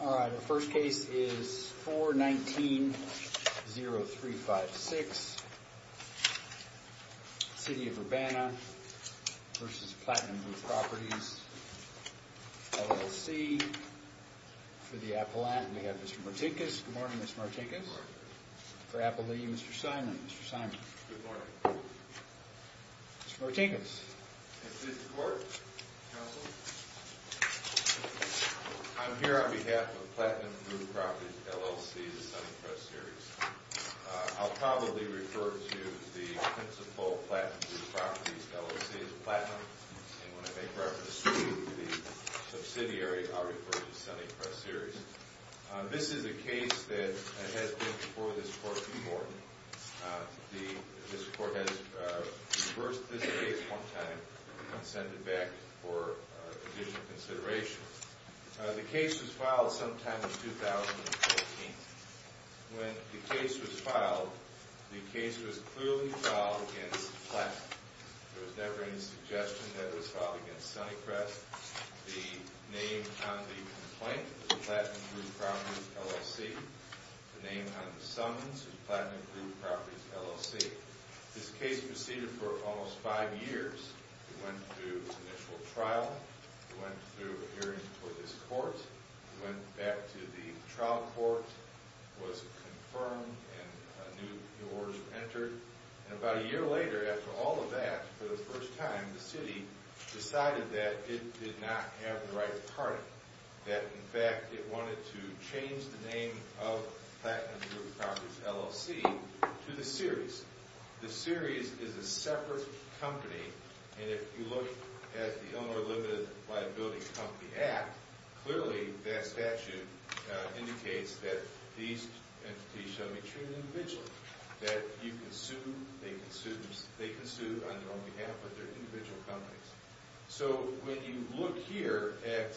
All right, the first case is 419-0356, City of Urbana v. Platinum Group Properties, LLC, for the Appalachian. We have Mr. Martinkus. Good morning, Mr. Martinkus. Good morning. For Appalachia, Mr. Simon. Mr. Simon. Good morning. Mr. Martinkus. In this court, counsel, I'm here on behalf of Platinum Group Properties, LLC, the Sunning Press Series. I'll probably refer to the principal Platinum Group Properties, LLC, as Platinum, and when I make reference to the subsidiary, I'll refer to Sunning Press Series. This is a case that has been before this court before. This court has reversed this case one time and consented back for additional consideration. The case was filed sometime in 2014. When the case was filed, the case was clearly filed against Platinum. There was never any suggestion that it was filed against Sunning Press. The name on the complaint was Platinum Group Properties, LLC. The name on the summons was Platinum Group Properties, LLC. This case proceeded for almost five years. It went through initial trial. It went through a hearing for this court. It went back to the trial court. It was confirmed and new orders were entered. About a year later, after all of that, for the first time, the city decided that it did not have the right party, that, in fact, it wanted to change the name of Platinum Group Properties, LLC, to the Series. The Series is a separate company, and if you look at the Illinois Limited Liability Company Act, clearly that statute indicates that these entities shall be treated individually, that you can sue, they can sue on their own behalf with their individual companies. So when you look here at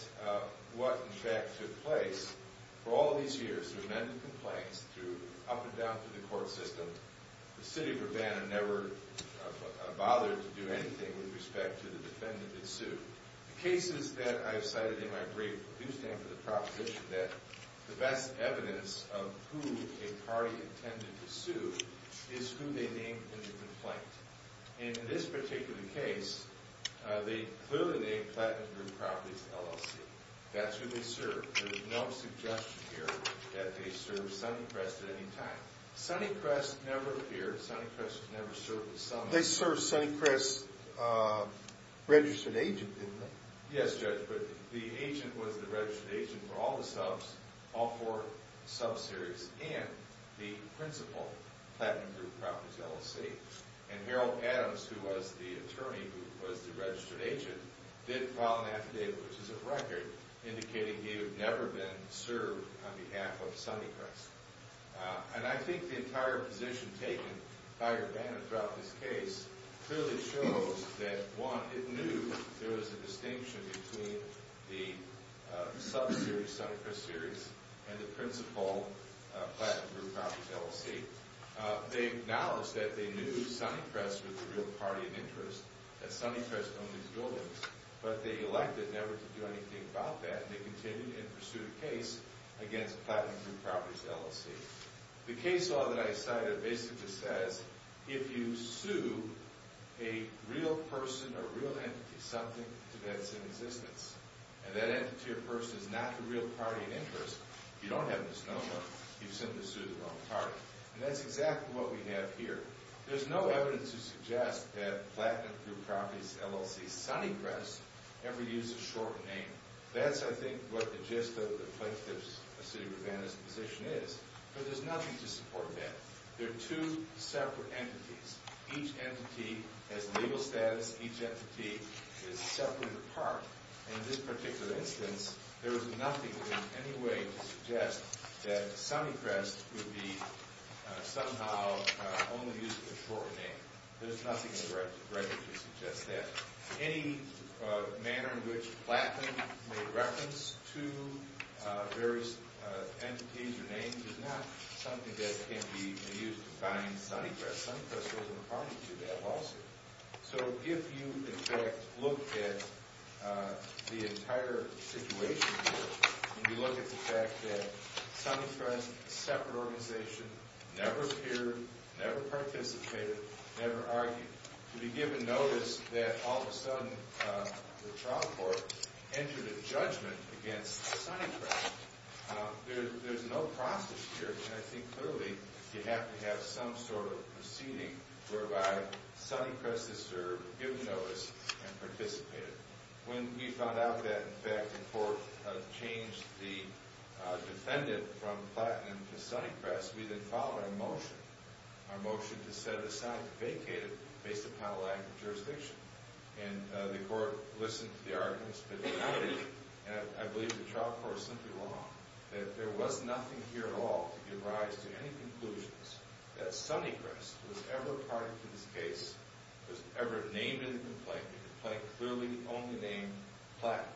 what, in fact, took place, for all of these years, through many complaints, through up and down through the court system, the city of Urbana never bothered to do anything with respect to the defendant it sued. The cases that I have cited in my brief do stand for the proposition that the best evidence of who a party intended to sue is who they named in the complaint. And in this particular case, they clearly named Platinum Group Properties, LLC. That's who they served. There's no suggestion here that they served Sunnycrest at any time. Sunnycrest never appeared. Sunnycrest was never served with someone. They served Sunnycrest's registered agent, didn't they? Yes, Judge, but the agent was the registered agent for all the subs, all four subs Series, and the principal, Platinum Group Properties, LLC. And Harold Adams, who was the attorney who was the registered agent, did file an affidavit, which is a record, indicating he had never been served on behalf of Sunnycrest. And I think the entire position taken by Urbana throughout this case clearly shows that, one, it knew there was a distinction between the subs Series, Sunnycrest Series, and the principal, Platinum Group Properties, LLC. They acknowledged that they knew Sunnycrest was the real party of interest, that Sunnycrest owned these buildings, but they elected never to do anything about that. And they continued in pursuit of case against Platinum Group Properties, LLC. The case law that I cited basically says, if you sue a real person or real entity, something depends in existence. And that entity or person is not the real party of interest, you don't have misnomer, you simply sued the wrong party. And that's exactly what we have here. There's no evidence to suggest that Platinum Group Properties, LLC's Sunnycrest ever used a short name. That's, I think, what the gist of the plaintiff's city of Urbana's position is. But there's nothing to support that. They're two separate entities. Each entity has legal status. Each entity is separated apart. In this particular instance, there was nothing in any way to suggest that Sunnycrest would be somehow only using a short name. There's nothing in the record to suggest that. Any manner in which Platinum made reference to various entities or names is not something that can be used to find Sunnycrest. Sunnycrest wasn't a party to that lawsuit. So if you, in fact, look at the entire situation here, and you look at the fact that Sunnycrest, a separate organization, never appeared, never participated, never argued, to be given notice that, all of a sudden, the trial court entered a judgment against Sunnycrest. There's no process here. And I think, clearly, you have to have some sort of proceeding whereby Sunnycrest has served, given notice, and participated. When we found out that, in fact, the court had changed the defendant from Platinum to Sunnycrest, we then filed a motion, our motion to set aside, vacate it based upon lack of jurisdiction. And the court listened to the arguments, but decided, and I believe the trial court is simply wrong, that there was nothing here at all to give rise to any conclusions that Sunnycrest was ever a party to this case, was ever named in the complaint, the complaint clearly only named Platinum.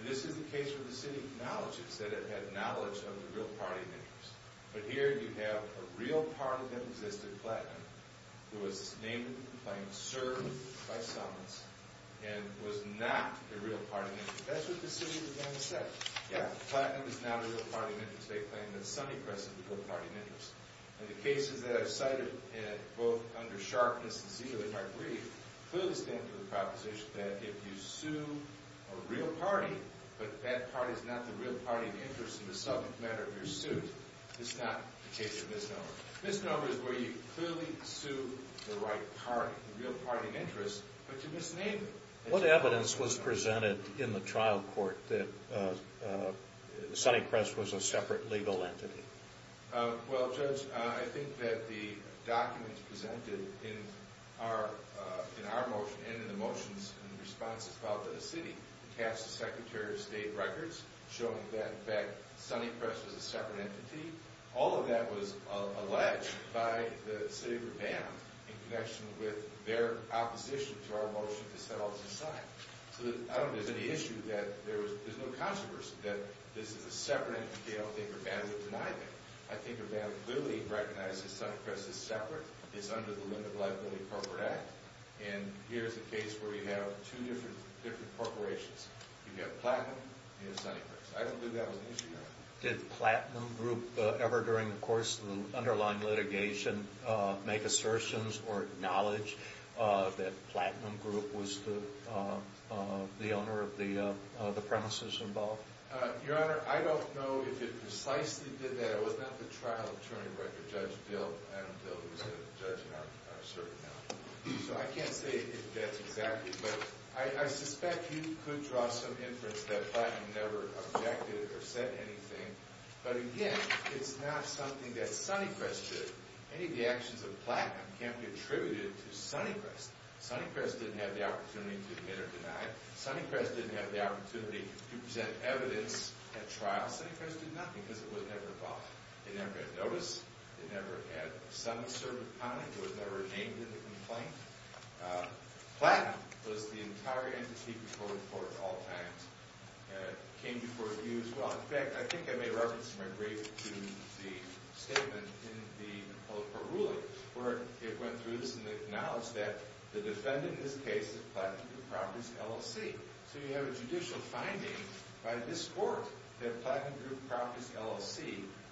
And this is the case where the city acknowledges that it had knowledge of the real party of interest. But here you have a real party that existed, Platinum, who was named in the complaint, served by Summons, and was not a real party of interest. That's what the city was going to say. Yeah, Platinum is not a real party of interest. They claim that Sunnycrest is a real party of interest. And the cases that I've cited, both under Sharpness and Ziegler, if I believe, clearly stand for the proposition that, in the subject matter of your suit, it's not a case of misnomer. Misnomer is where you clearly sue the right party, the real party of interest, but you misname it. What evidence was presented in the trial court that Sunnycrest was a separate legal entity? Well, Judge, I think that the documents presented in our motion, and in the motions and responses about the city, cast the Secretary of State records showing that, in fact, Sunnycrest was a separate entity. All of that was alleged by the city of Urbana in connection with their opposition to our motion that set all this aside. So I don't think there's any issue that there's no controversy that this is a separate entity. I don't think Urbana would deny that. I think Urbana clearly recognizes Sunnycrest as separate. It's under the Limit of Liability Corporate Act. And here's a case where you have two different corporations. You've got Platinum and you've got Sunnycrest. I don't think that was an issue. Did Platinum Group ever, during the course of the underlying litigation, make assertions or acknowledge that Platinum Group was the owner of the premises involved? Your Honor, I don't know if it precisely did that. It was not the trial attorney record. It was Judge Bill, Adam Bill, who was the judge in our cert now. So I can't say if that's exactly it. But I suspect you could draw some inference that Platinum never objected or said anything. But again, it's not something that Sunnycrest did. Any of the actions of Platinum can't be attributed to Sunnycrest. Sunnycrest didn't have the opportunity to admit or deny it. Sunnycrest didn't have the opportunity to present evidence at trial. Sunnycrest did nothing because it was never involved. It never got noticed. It never had some assertive comment. It was never named in the complaint. Platinum was the entire entity before the court at all times. It came before the views. Well, in fact, I think I may reference my brief to the statement in the public court ruling where it went through this and acknowledged that the defendant in this case is Platinum Group Properties, LLC. So you have a judicial finding by this court that Platinum Group Properties, LLC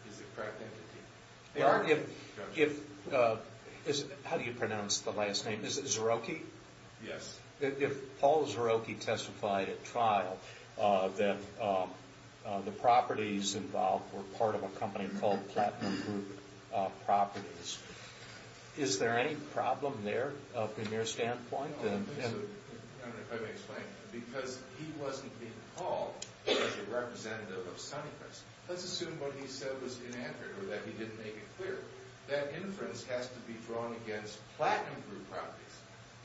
is the correct entity. How do you pronounce the last name? Is it Zerokhi? Yes. If Paul Zerokhi testified at trial that the properties involved were part of a company called Platinum Group Properties, is there any problem there from your standpoint? I don't know if I can explain because he wasn't being called as a representative of Sunnycrest. Let's assume what he said was inaccurate or that he didn't make it clear. That inference has to be drawn against Platinum Group Properties,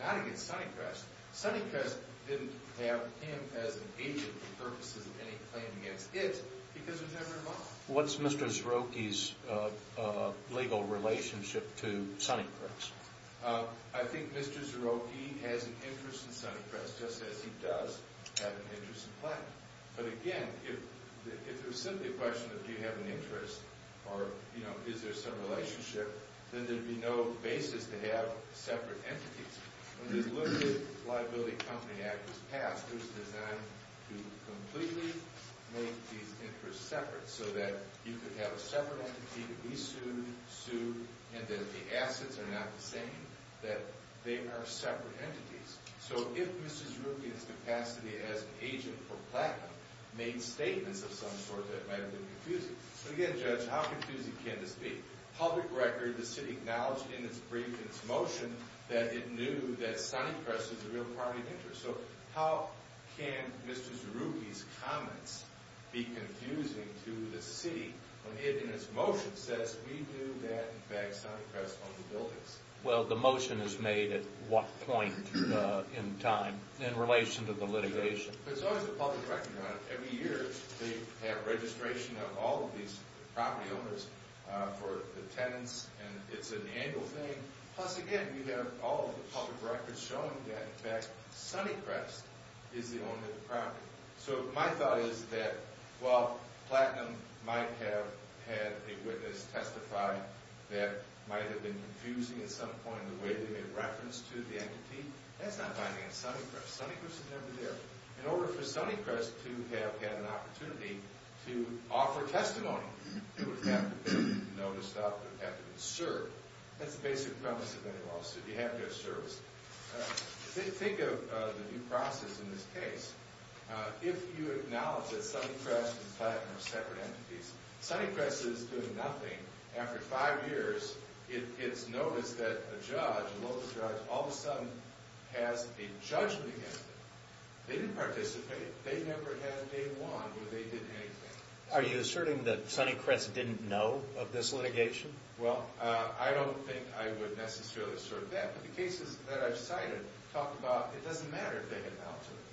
not against Sunnycrest. Sunnycrest didn't have him as an agent for purposes of any claim against it because it was never involved. What's Mr. Zerokhi's legal relationship to Sunnycrest? I think Mr. Zerokhi has an interest in Sunnycrest, just as he does have an interest in Platinum. But again, if it was simply a question of do you have an interest or is there some relationship, then there would be no basis to have separate entities. When this Limited Liability Company Act was passed, it was designed to completely make these interests separate so that you could have a separate entity that we sued, sued, and that the assets are not the same, that they are separate entities. So if Mr. Zerokhi in his capacity as an agent for Platinum made statements of some sort, that might have been confusing. So again, Judge, how confusing can this be? Public record, the city acknowledged in its brief and its motion that it knew that Sunnycrest was a real property of interest. So how can Mr. Zerokhi's comments be confusing to the city when it, in its motion, says we knew that Sunnycrest owned the buildings? Well, the motion is made at what point in time in relation to the litigation? There's always a public record on it. Every year they have registration of all of these property owners for the tenants, and it's an annual thing. Plus, again, you have all of the public records showing that, in fact, Sunnycrest is the owner of the property. So my thought is that while Platinum might have had a witness testify that might have been confusing at some point in the way they made reference to the entity, that's not binding on Sunnycrest. Sunnycrest is never there. In order for Sunnycrest to have had an opportunity to offer testimony, it would have to be noticed up, it would have to be served. That's the basic premise of any lawsuit. You have to have service. Think of the new process in this case. If you acknowledge that Sunnycrest and Platinum are separate entities, Sunnycrest is doing nothing. After five years, it's noticed that a judge, a local judge, all of a sudden has a judgment against it. They didn't participate. They never had a day one where they did anything. Are you asserting that Sunnycrest didn't know of this litigation? Well, I don't think I would necessarily assert that. But the cases that I've cited talk about it doesn't matter if they had an alternate.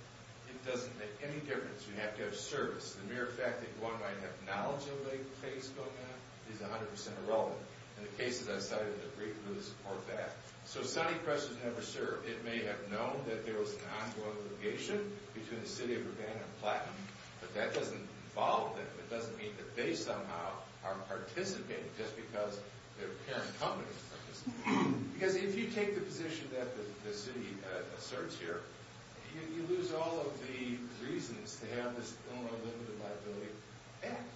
It doesn't make any difference. You have to have service. The mere fact that one might have knowledge of a case going on is 100% irrelevant. And the cases I've cited agree with or support that. So if Sunnycrest was never served, it may have known that there was an ongoing litigation between the city of Urbana and Platinum. But that doesn't involve them. It doesn't mean that they somehow aren't participating just because their parent company is participating. Because if you take the position that the city asserts here, you lose all of the reasons to have this unlimited liability act.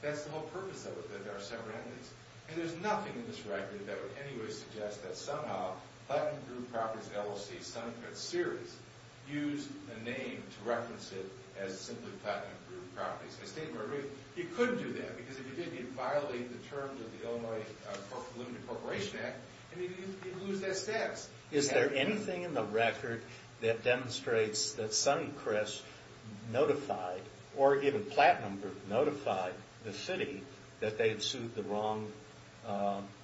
That's the whole purpose of it, that there are separate entities. And there's nothing in this record that would in any way suggest that somehow Platinum Group Properties LLC, Sunnycrest Series, used a name to reference it as simply Platinum Group Properties. You couldn't do that. Because if you did, you'd violate the terms of the Illinois Unlimited Corporation Act, and you'd lose that status. Is there anything in the record that demonstrates that Sunnycrest notified, or even Platinum Group notified, the city that they'd sued the wrong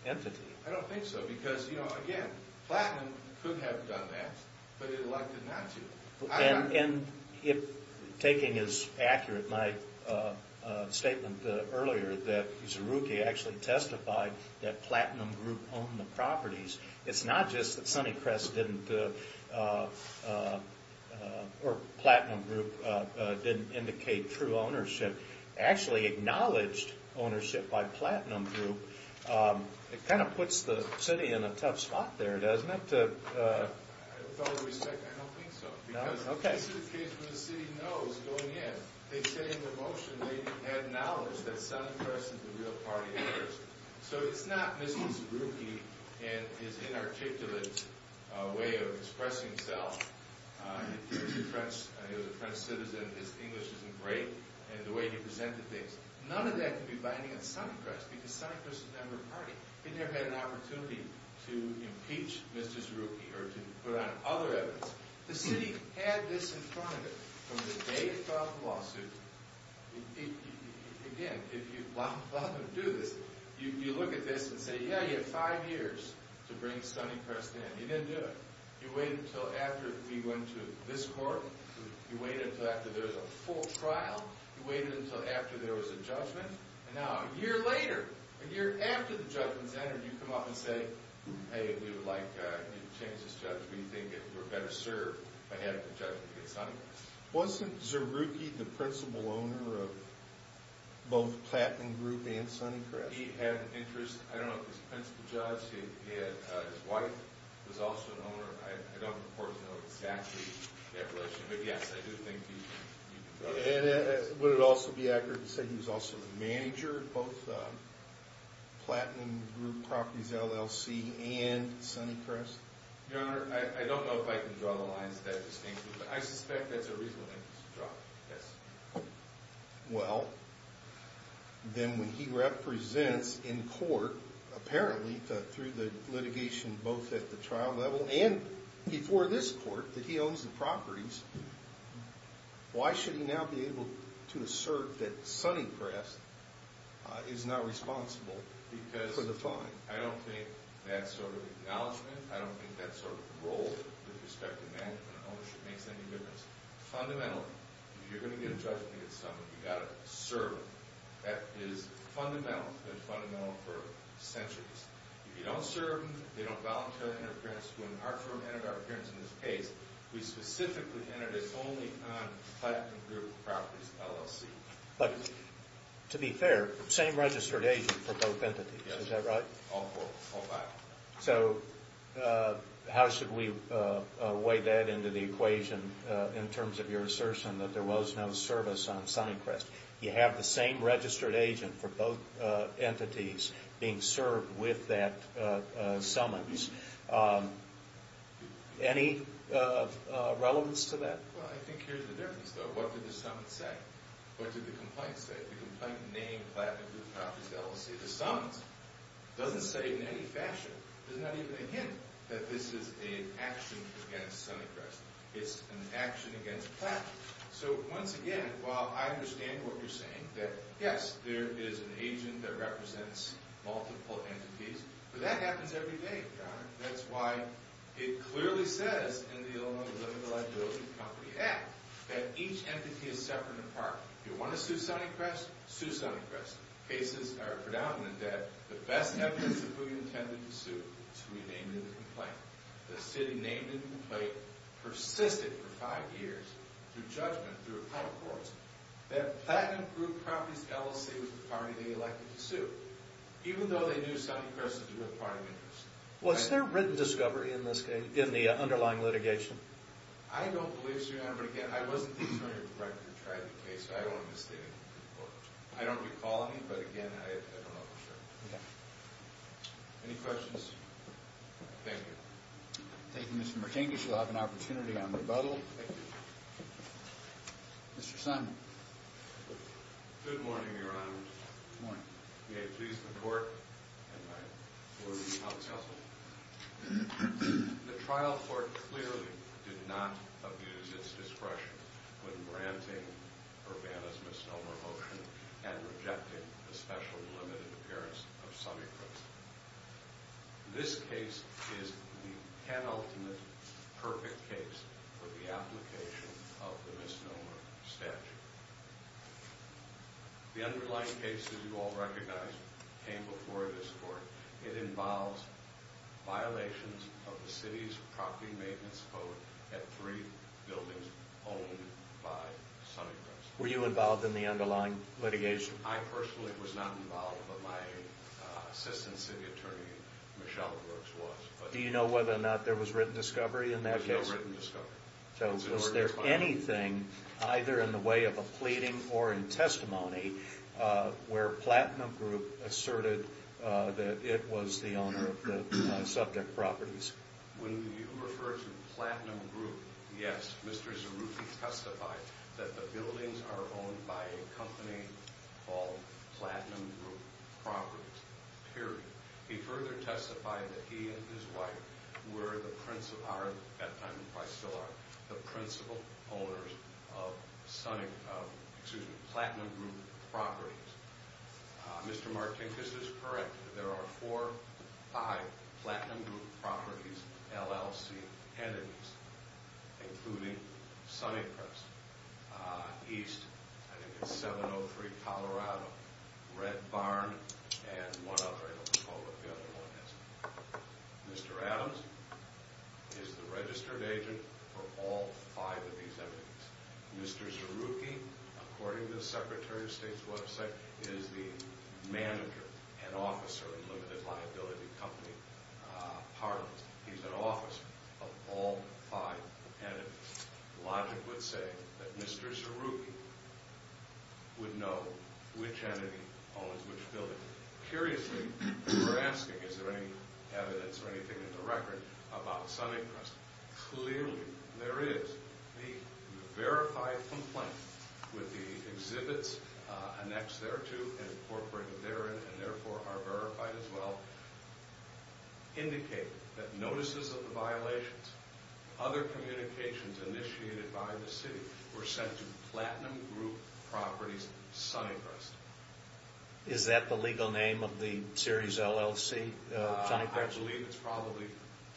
entity? I don't think so. Because, you know, again, Platinum could have done that, but it elected not to. And if taking as accurate my statement earlier that Zerouki actually testified that Platinum Group owned the properties, it's not just that Sunnycrest didn't, or Platinum Group didn't indicate true ownership. It actually acknowledged ownership by Platinum Group. It kind of puts the city in a tough spot there, doesn't it? With all due respect, I don't think so. Because this is a case where the city knows, going in. They said in their motion they had knowledge that Sunnycrest is the real party to this. So it's not Mr. Zerouki and his inarticulate way of expressing himself. He was a French citizen, his English isn't great, and the way he presented things. None of that could be binding on Sunnycrest, because Sunnycrest is a member party. They never had an opportunity to impeach Mr. Zerouki or to put on other evidence. The city had this in front of it from the day it filed the lawsuit. Again, if you allow them to do this, you look at this and say, yeah, you have five years to bring Sunnycrest in. You didn't do it. You waited until after we went to this court. You waited until after there was a full trial. You waited until after there was a judgment. And now, a year later, a year after the judgment's entered, you come up and say, hey, we would like you to change this judgment. We think you were better served by having the judgment against Sunnycrest. Wasn't Zerouki the principal owner of both Platinum Group and Sunnycrest? He had an interest. I don't know if his principal judge. His wife was also an owner. I don't, of course, know exactly that relationship. But, yes, I do think he was. Would it also be accurate to say he was also the manager of both Platinum Group Properties, LLC, and Sunnycrest? Your Honor, I don't know if I can draw the lines that distinctly, but I suspect that's a reasonable thing to draw, yes. Well, then when he represents in court, apparently through the litigation both at the trial level and before this court that he owns the properties, why should he now be able to assert that Sunnycrest is not responsible for the fine? Because I don't think that sort of acknowledgment, I don't think that sort of role with respect to management and ownership makes any difference. Fundamentally, if you're going to get a judgment against somebody, you've got to serve them. That is fundamental. It's been fundamental for centuries. If you don't serve them, they don't volunteer interference. When our firm entered our appearance in this case, we specifically entered this only on Platinum Group Properties, LLC. But, to be fair, same registered agent for both entities. Yes. All four. All five. So, how should we weigh that into the equation in terms of your assertion that there was no service on Sunnycrest? You have the same registered agent for both entities being served with that summons. Any relevance to that? Well, I think here's the difference, though. What did the summons say? What did the complaint say? The complaint named Platinum Group Properties, LLC. It doesn't say it in any fashion. There's not even a hint that this is an action against Sunnycrest. It's an action against Platinum. So, once again, while I understand what you're saying, that, yes, there is an agent that represents multiple entities, but that happens every day, Your Honor. That's why it clearly says in the Illinois Deliverability Company Act that each entity is separate and apart. If you want to sue Sunnycrest, sue Sunnycrest. Cases are predominant that the best evidence of who you intended to sue is who you named in the complaint. The city named in the complaint persisted for five years through judgment, through appellate courts, that Platinum Group Properties, LLC. was the party they elected to sue, even though they knew Sunnycrest was a real party of interest. Was there written discovery in this case, in the underlying litigation? I don't believe so, Your Honor. But, again, I wasn't the attorney director who tried the case, so I don't want to misstate it. I don't recall any, but, again, I don't know for sure. Okay. Any questions? Thank you. Thank you, Mr. Martingis. You'll have an opportunity on rebuttal. Thank you. Mr. Simon. Good morning, Your Honor. Good morning. May it please the Court and my four-week-long counsel, the trial court clearly did not abuse its discretion when granting Urbana's misnomer motion and rejecting the special delimited appearance of Sunnycrest. This case is the penultimate perfect case for the application of the misnomer statute. The underlying case, as you all recognize, came before this Court. It involves violations of the city's property maintenance code at three buildings owned by Sunnycrest. Were you involved in the underlying litigation? I personally was not involved, but my assistant city attorney, Michelle Brooks, was. Do you know whether or not there was written discovery in that case? There was no written discovery. So was there anything, either in the way of a pleading or in testimony, where Platinum Group asserted that it was the owner of the subject properties? When you refer to Platinum Group, yes. Mr. Zarufi testified that the buildings are owned by a company called Platinum Group Properties, period. He further testified that he and his wife were the principal owners of Platinum Group Properties. Mr. Martinkus is correct. There are four, five Platinum Group Properties LLC entities, including Sunnycrest, East, 703 Colorado, Red Barn, and one other. I don't recall what the other one is. Mr. Adams is the registered agent for all five of these entities. Mr. Zarufi, according to the Secretary of State's website, is the manager and officer of Limited Liability Company Partners. He's an officer of all five entities. Logic would say that Mr. Zarufi would know which entity owns which building. Curiously, we're asking, is there any evidence or anything in the record about Sunnycrest? Clearly, there is. The verified complaint with the exhibits annexed thereto and incorporated therein and therefore are verified as well indicate that notices of the violations, other communications initiated by the city, were sent to Platinum Group Properties, Sunnycrest. Is that the legal name of the series LLC, Sunnycrest? I believe it's probably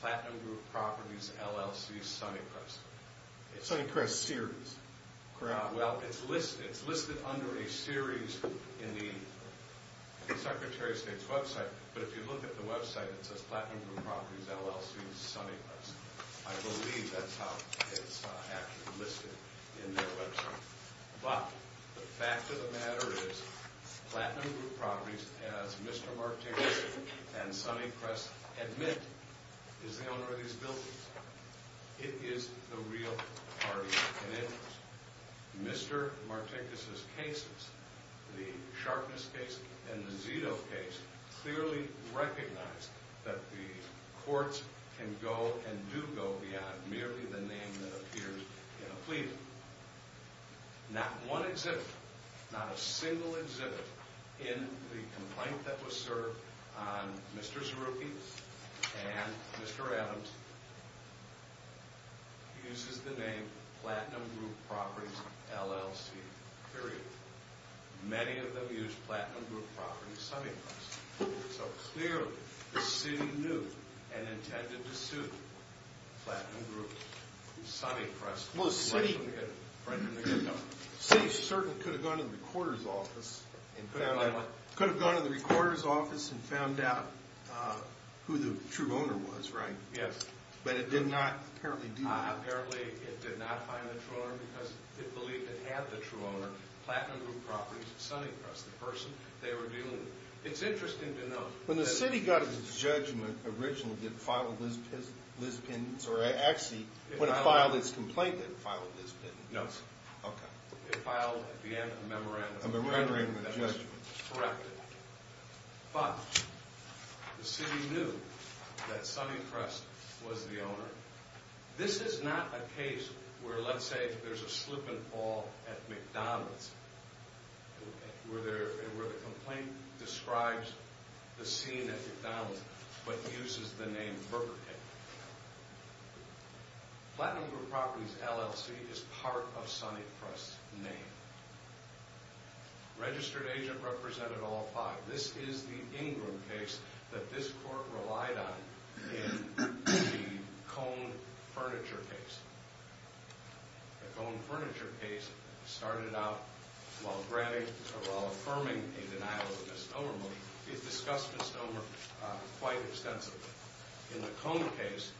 Platinum Group Properties, LLC, Sunnycrest. Sunnycrest Series. Well, it's listed under a series in the Secretary of State's website. But if you look at the website, it says Platinum Group Properties, LLC, Sunnycrest. I believe that's how it's actually listed in their website. But the fact of the matter is, Platinum Group Properties, as Mr. Martinez and Sunnycrest admit, is the owner of these buildings. It is the real party. And in Mr. Martinez's cases, the Sharpness case and the Zito case, clearly recognize that the courts can go and do go beyond merely the name that appears in a plea. Not one exhibit, not a single exhibit in the complaint that was served on Mr. Zarufi and Mr. Adams uses the name Platinum Group Properties, LLC, period. Many of them use Platinum Group Properties, Sunnycrest. So clearly, the city knew and intended to sue Platinum Group, Sunnycrest. Well, the city certainly could have gone to the recorder's office and found out who the true owner was, right? Yes. But it did not, apparently, do that. Apparently, it did not find the true owner because it believed it had the true owner, Platinum Group Properties, Sunnycrest, the person they were dealing with. It's interesting to note that... When the city got its judgment originally, did it file a list of opinions? Or actually, when it filed its complaint, did it file a list of opinions? No, sir. Okay. It filed, at the end, a memorandum of judgment. A memorandum of judgment. Corrected. But the city knew that Sunnycrest was the owner. This is not a case where, let's say, there's a slip and fall at McDonald's, where the complaint describes the scene at McDonald's, but uses the name Burger King. Platinum Group Properties, LLC, is part of Sunnycrest's name. Registered agent represented all five. This is the Ingram case that this court relied on in the Cone Furniture case. The Cone Furniture case started out, while affirming a denial of misnomer motion, it discussed misnomer quite extensively. In the Cone case,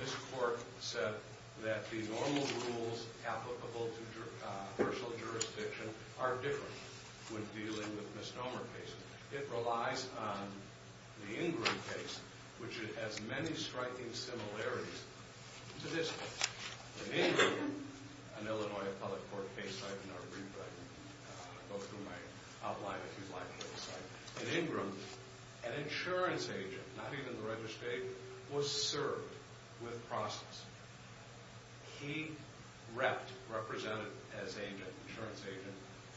this court said that the normal rules applicable to personal jurisdiction are different when dealing with misnomer cases. It relies on the Ingram case, which has many striking similarities to this case. In Ingram, an Illinois public court case, I can not read, but I can go through my outline if you'd like. In Ingram, an insurance agent, not even the registered agent, was served with process. He repped, represented as insurance agent,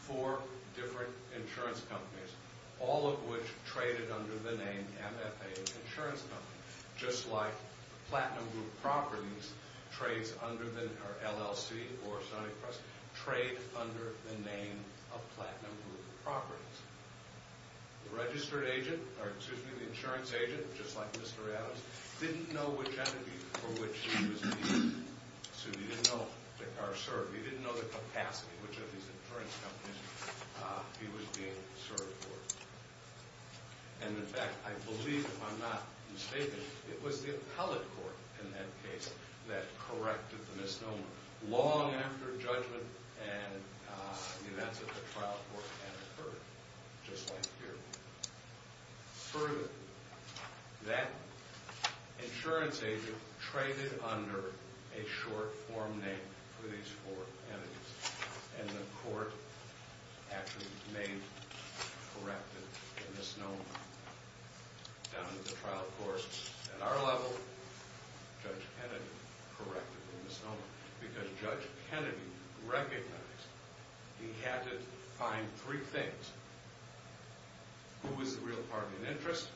four different insurance companies, all of which traded under the name MFA Insurance Company. Just like Platinum Group Properties, LLC, or Sunnycrest, trade under the name of Platinum Group Properties. The registered agent, or excuse me, the insurance agent, just like Mr. Adams, didn't know which energy for which he was being served. He didn't know the capacity, which of these insurance companies he was being served for. In fact, I believe, if I'm not mistaken, it was the appellate court in that case that corrected the misnomer. Long after judgment and the events of the trial court had occurred, just like here. Further, that insurance agent traded under a short form name for these four entities. And the court actually made, corrected the misnomer. Down at the trial court, at our level, Judge Kennedy corrected the misnomer. Because Judge Kennedy recognized he had to find three things. Who was the real party in interest?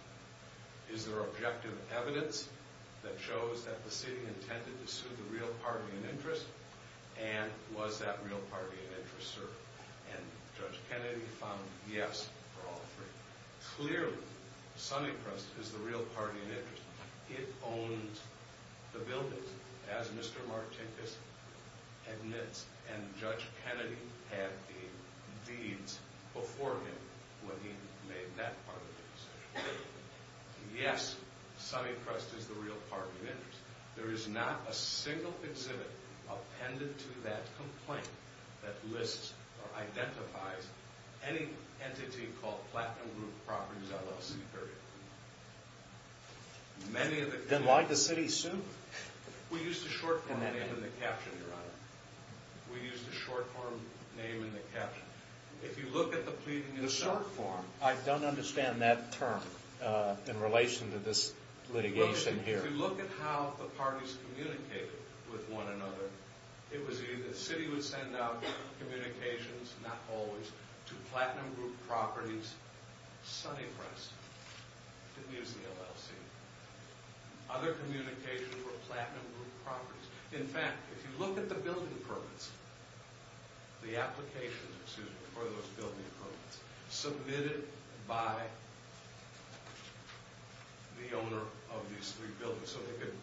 Is there objective evidence that shows that the city intended to sue the real party in interest? And was that real party in interest served? And Judge Kennedy found yes for all three. Clearly, Sunnycrest is the real party in interest. It owns the buildings, as Mr. Martinkus admits. And Judge Kennedy had the deeds before him when he made that part of the decision. There is not a single exhibit appended to that complaint that lists or identifies any entity called Platinum Group Properties LLC, period. Then why'd the city sue? We used a short form name in the caption, Your Honor. We used a short form name in the caption. If you look at the pleading in the short form... I don't understand that term in relation to this litigation here. If you look at how the parties communicated with one another, it was either the city would send out communications, not always, to Platinum Group Properties, Sunnycrest didn't use the LLC. Other communications were Platinum Group Properties. In fact, if you look at the building permits, the application for those building permits submitted by the owner of these three buildings, so they could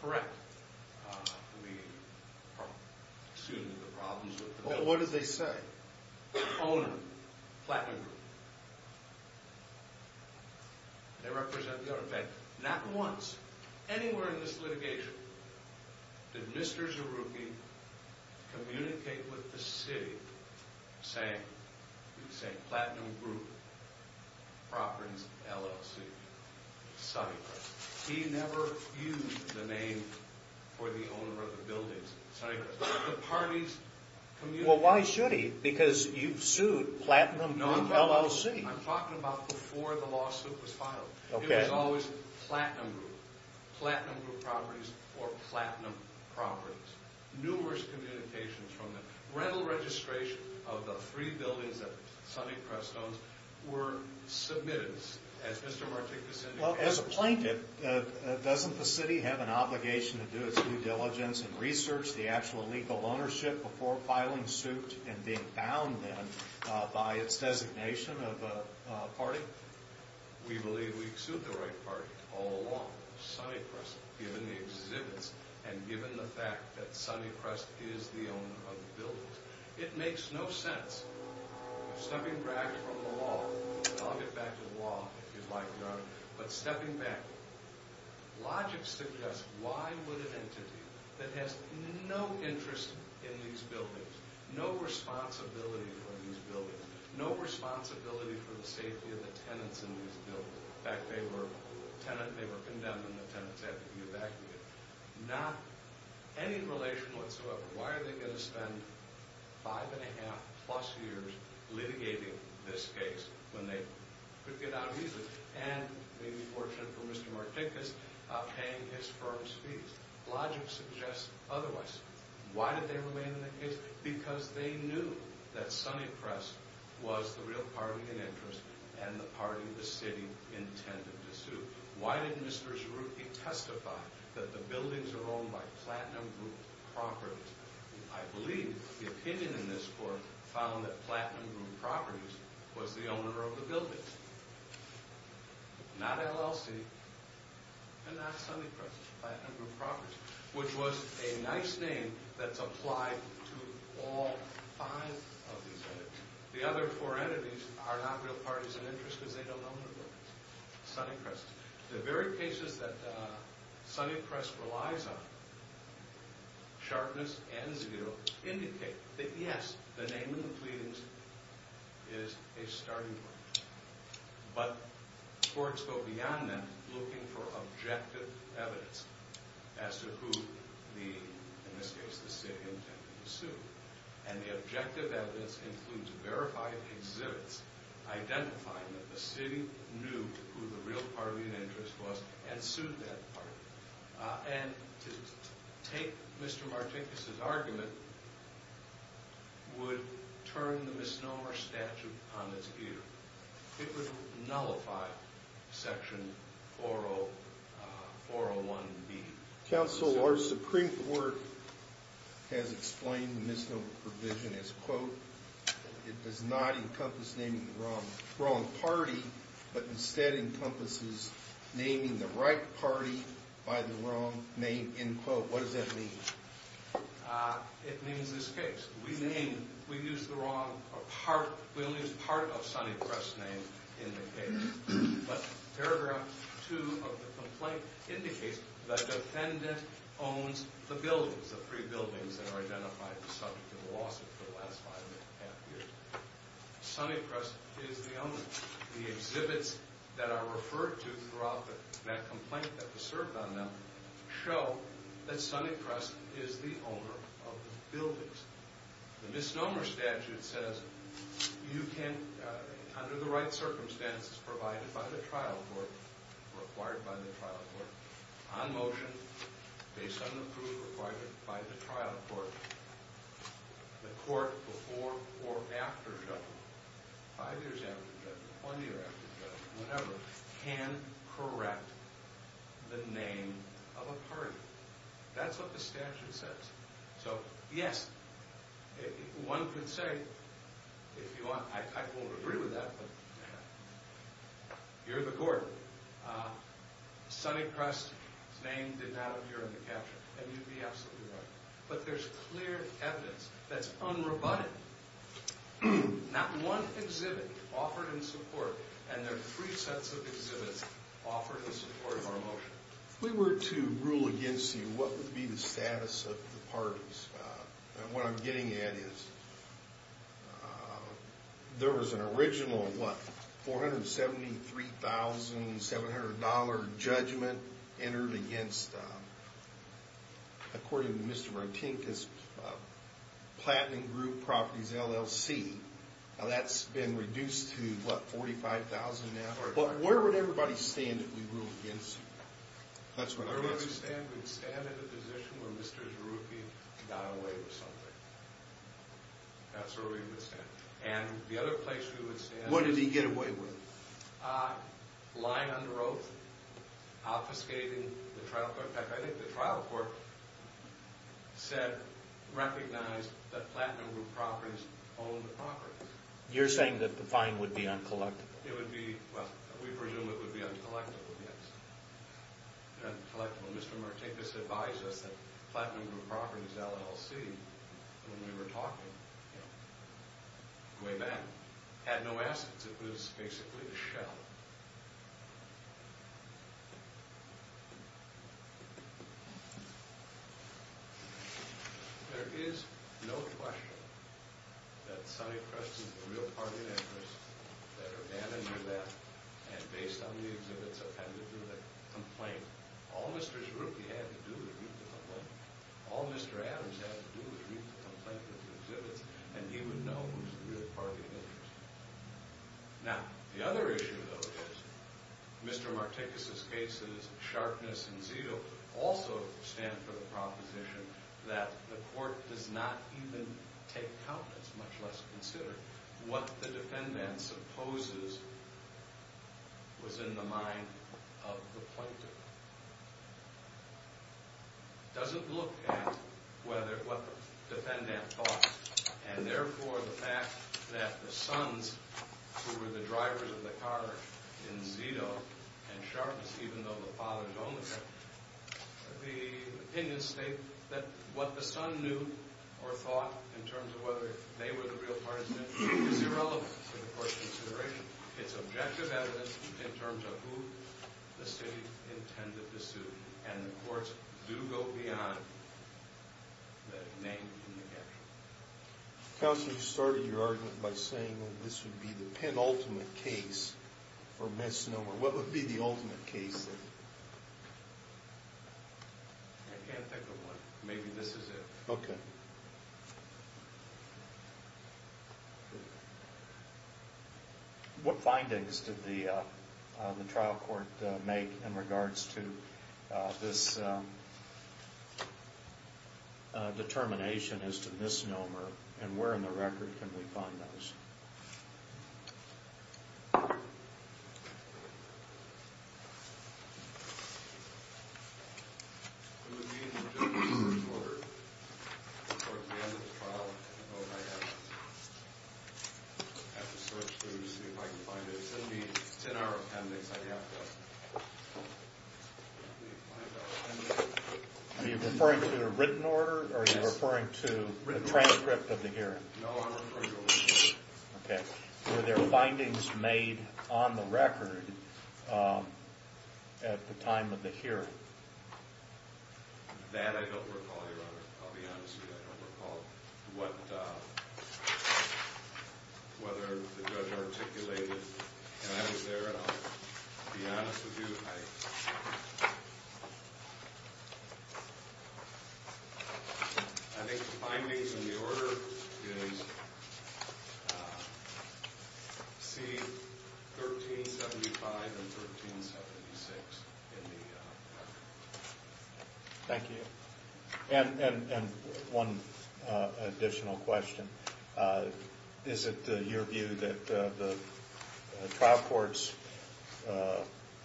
correct the problems with the building. Well, what did they say? Owner, Platinum Group. They represent the owner. In fact, not once, anywhere in this litigation, did Mr. Zerouki communicate with the city saying Platinum Group Properties, LLC, Sunnycrest. He never used the name for the owner of the buildings, Sunnycrest. The parties communicated... Well, why should he? Because you've sued Platinum Group LLC. I'm talking about before the lawsuit was filed. Okay. It was always Platinum Group, Platinum Group Properties, or Platinum Properties. Numerous communications from the rental registration of the three buildings at Sunnycrest were submitted, as Mr. Martinkus indicated. Well, as a plaintiff, doesn't the city have an obligation to do its due diligence and research the actual legal ownership before filing suit and being bound then by its designation of a party? We believe we've sued the right party all along at Sunnycrest, given the exhibits and given the fact that Sunnycrest is the owner of the buildings. It makes no sense, stepping back from the law. I'll get back to the law if you'd like, Your Honor. But stepping back, logic suggests why would an entity that has no interest in these buildings, no responsibility for these buildings, no responsibility for the safety of the tenants in these buildings. In fact, they were condemned and the tenants had to be evacuated. Not any relation whatsoever. Why are they going to spend five and a half plus years litigating this case when they could get out easily and may be fortunate for Mr. Martinkus paying his firm's fees? Logic suggests otherwise. Why did they remain in the case? Because they knew that Sunnycrest was the real party in interest and the party the city intended to sue. Why did Mr. Zerouki testify that the buildings are owned by Platinum Group Properties? I believe the opinion in this court found that Platinum Group Properties was the owner of the buildings. Not LLC and not Sunnycrest. Which was a nice name that's applied to all five of these entities. The other four entities are not real parties in interest because they don't own the buildings. Sunnycrest. The very cases that Sunnycrest relies on, Sharpness and Zerouki, indicate that yes, the name in the pleadings is a starting point. But courts go beyond that looking for objective evidence as to who, in this case, the city intended to sue. And the objective evidence includes verified exhibits identifying that the city knew who the real party in interest was and sued that party. And to take Mr. Martinkus' argument would turn the misnomer statute on its head. It would nullify Section 401B. Counsel, our Supreme Court has explained the misnomer provision as, quote, It does not encompass naming the wrong party, but instead encompasses naming the right party by the wrong name, end quote. What does that mean? It means this case. We named, we used the wrong, we only used part of Sunnycrest's name in the case. But paragraph two of the complaint indicates the defendant owns the buildings, the three buildings that are identified as subject to the lawsuit for the last five and a half years. Sunnycrest is the owner. The exhibits that are referred to throughout that complaint that was served on them show that Sunnycrest is the owner of the buildings. The misnomer statute says you can, under the right circumstances provided by the trial court, required by the trial court, on motion, based on the proof required by the trial court, the court before or after judgment, five years after judgment, one year after judgment, whenever, can correct the name of a party. That's what the statute says. So, yes, one could say, if you want, I won't agree with that, but you're the court. Sunnycrest's name did not appear in the capture. And you'd be absolutely right. But there's clear evidence that's unrebutted. Not one exhibit offered in support, and there are three sets of exhibits offered in support of our motion. If we were to rule against you, what would be the status of the parties? And what I'm getting at is, there was an original, what, $473,700 judgment entered against, according to Mr. Martinkus, Platinum Group Properties, LLC. Now, that's been reduced to, what, $45,000 now? But where would everybody stand if we ruled against you? That's what I'm asking. Where would we stand? We'd stand in the position where Mr. Zarufi got away with something. That's where we would stand. And the other place we would stand is... What did he get away with? Lying under oath, obfuscating the trial court. In fact, I think the trial court said, recognized that Platinum Group Properties owned the property. You're saying that the fine would be uncollected? It would be, well, we presume it would be uncollectable, yes. Uncollectable. Mr. Martinkus advised us that Platinum Group Properties, LLC, when we were talking, you know, way back, had no assets. It was basically a shell. There is no question that Sonny Preston is the real party of interest, that Urbana knew that, and based on the exhibits, attended to the complaint. All Mr. Zarufi had to do was read the complaint. All Mr. Adams had to do was read the complaint with the exhibits, and he would know who's the real party of interest. Now, the other issue, though, is Mr. Martinkus' cases, Sharpness and Zeal, also stand for the proposition that the court does not even take count. It's much less considered. What the defendant supposes was in the mind of the plaintiff. It doesn't look at what the defendant thought, and therefore the fact that the sons, who were the drivers of the car in Zito and Sharpness, even though the father is only there, the opinions state that what the son knew or thought in terms of whether they were the real parties in it is irrelevant to the court's consideration. It's objective evidence in terms of who the city intended to sue, and the courts do go beyond the name of the individual. Counsel, you started your argument by saying that this would be the penultimate case for misnomer. What would be the ultimate case? I can't think of one. Maybe this is it. Okay. What findings did the trial court make in regards to this determination as to misnomer, and where in the record can we find those? Are you referring to a written order, or are you referring to the transcript of the hearing? No, I'm referring to a written order. Okay. Were there findings made on the record at the time of the hearing? That I don't recall, Your Honor. I'll be honest with you, I don't recall whether the judge articulated. And I was there, and I'll be honest with you, I think the findings in the order is C1375 and 1376 in the record. Thank you. And one additional question. Is it your view that the trial court's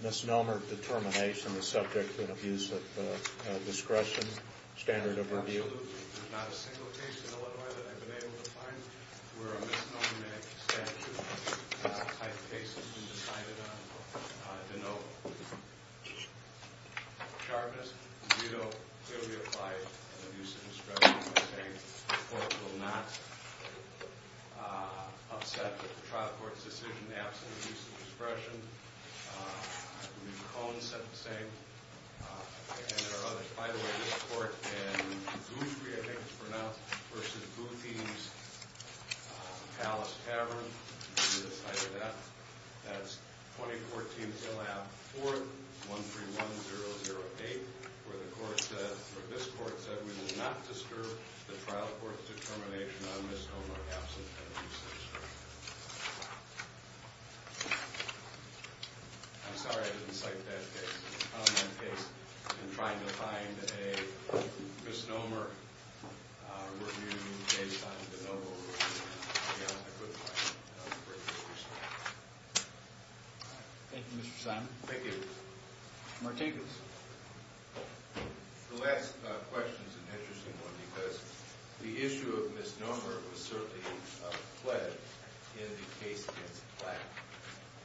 misnomer determination is subject to an abuse of discretion standard of review? Absolutely. There's not a single case in Illinois that I've been able to find where a misnomer statute type case has been decided on. I didn't know. Charges, veto, clearly apply an abuse of discretion, I think. The court will not upset the trial court's decision in the absence of abuse of discretion. I believe Cohen said the same, and there are others. By the way, this court in Boothby, I think it's pronounced, versus Boothby's Palace Tavern, we decided that. That's 2014, 4131008, where the court said, where this court said, we will not disturb the trial court's determination on misnomer absent of abuse of discretion. I'm sorry I didn't cite that case. I'm trying to find a misnomer review based on the noble rule. Thank you, Mr. Simon. Thank you. Martinkus. The last question is an interesting one, because the issue of misnomer was certainly pledged in the case against Platt.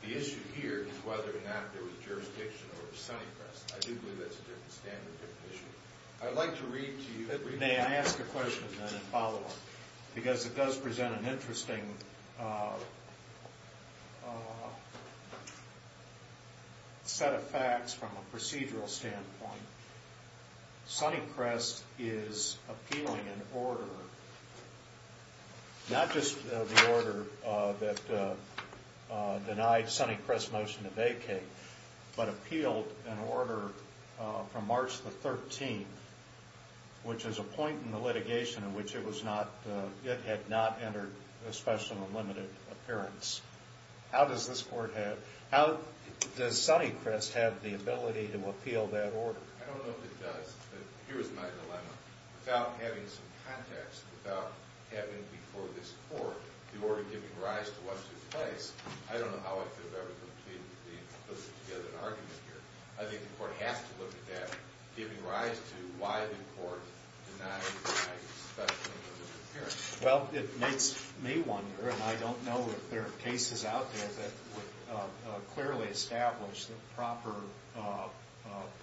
The issue here is whether or not there was jurisdiction over Sunnycrest. I do believe that's a different standard issue. I'd like to read to you the brief. May I ask a question, then, and follow up? Because it does present an interesting set of facts from a procedural standpoint. Sunnycrest is appealing an order, not just the order that denied Sunnycrest's motion to vacate, but appealed an order from March the 13th, which is a point in the litigation in which it had not entered a special and limited appearance. How does Sunnycrest have the ability to appeal that order? I don't know if it does, but here is my dilemma. Without having some context, without having before this court the order giving rise to what took place, I don't know how I could have ever completely put together an argument here. I think the court has to look at that, giving rise to why the court denied the special and limited appearance. Well, it makes me wonder, and I don't know if there are cases out there that would clearly establish the proper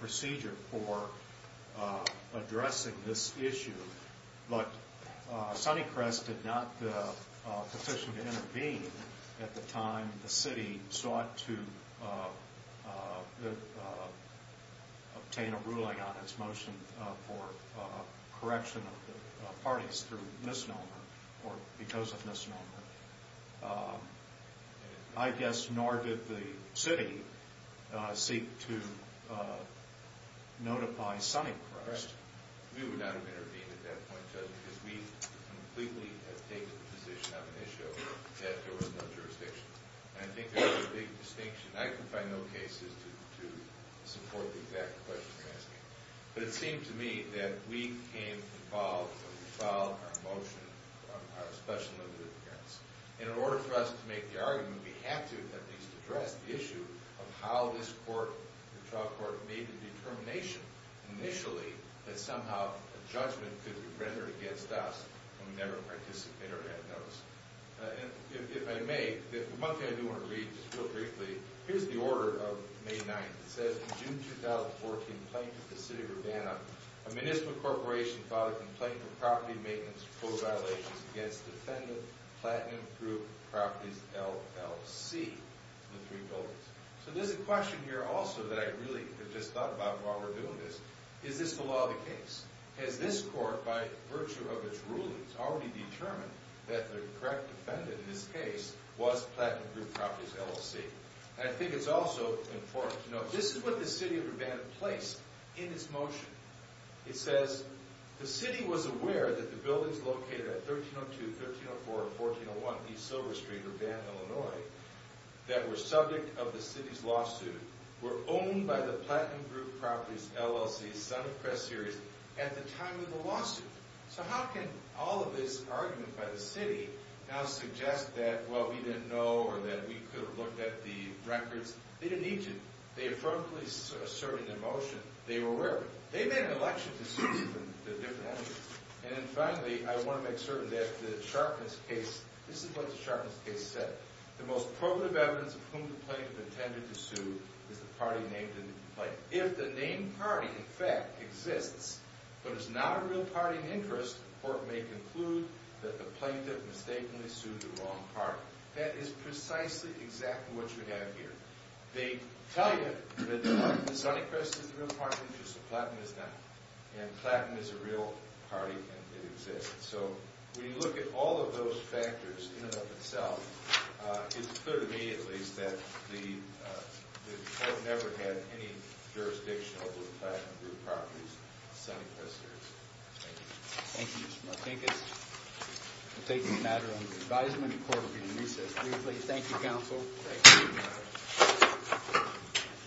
procedure for addressing this issue. But Sunnycrest did not petition to intervene at the time the city sought to obtain a ruling on its motion for correction of the parties through misnomer or because of misnomer. I guess nor did the city seek to notify Sunnycrest. We would not have intervened at that point, Judge, because we completely had taken the position on an issue that there was no jurisdiction. And I think there is a big distinction. I can find no cases to support the exact questions you're asking. But it seemed to me that we came involved when we filed our motion on our special and limited appearance. And in order for us to make the argument, we have to at least address the issue of how this court, the trial court, made the determination initially that somehow a judgment could be rendered against us when we never participated or had those. And if I may, one thing I do want to read, just real briefly. Here's the order of May 9th. It says, in June 2014, plaintiff to city of Urbana, a municipal corporation filed a complaint for property maintenance proposed violations against defendant Platinum Group Properties LLC, the three buildings. So there's a question here also that I really have just thought about while we're doing this. Is this the law of the case? Has this court, by virtue of its rulings, already determined that the correct defendant in this case was Platinum Group Properties LLC? And I think it's also important to note, this is what the city of Urbana placed in its motion. It says, the city was aware that the buildings located at 1302, 1304, and 1401 East Silver Street, Urbana, Illinois, that were subject of the city's lawsuit, were owned by the Platinum Group Properties LLC, son of Press Series, at the time of the lawsuit. So how can all of this argument by the city now suggest that, well, we didn't know or that we could have looked at the records? They didn't need to. They affirmably asserted in their motion they were aware of it. They made an election to sue the different entities. And then finally, I want to make certain that the Sharpness case, this is what the Sharpness case said, the most probative evidence of whom the plaintiff intended to sue is the party named in the complaint. If the named party, in fact, exists, but is not a real party of interest, the court may conclude that the plaintiff mistakenly sued the wrong party. That is precisely exactly what you have here. They tell you that the Sonnycrest is the real party of interest, so Platinum is not. And Platinum is a real party and it exists. So when you look at all of those factors in and of itself, it's clear to me, at least, that the court never had any jurisdiction over the Platinum Group Properties, Sonnycrest, or anything. Thank you. Thank you, Mr. Martinez. We'll take this matter under advisement. The court will be in recess briefly. Thank you, counsel. Thank you.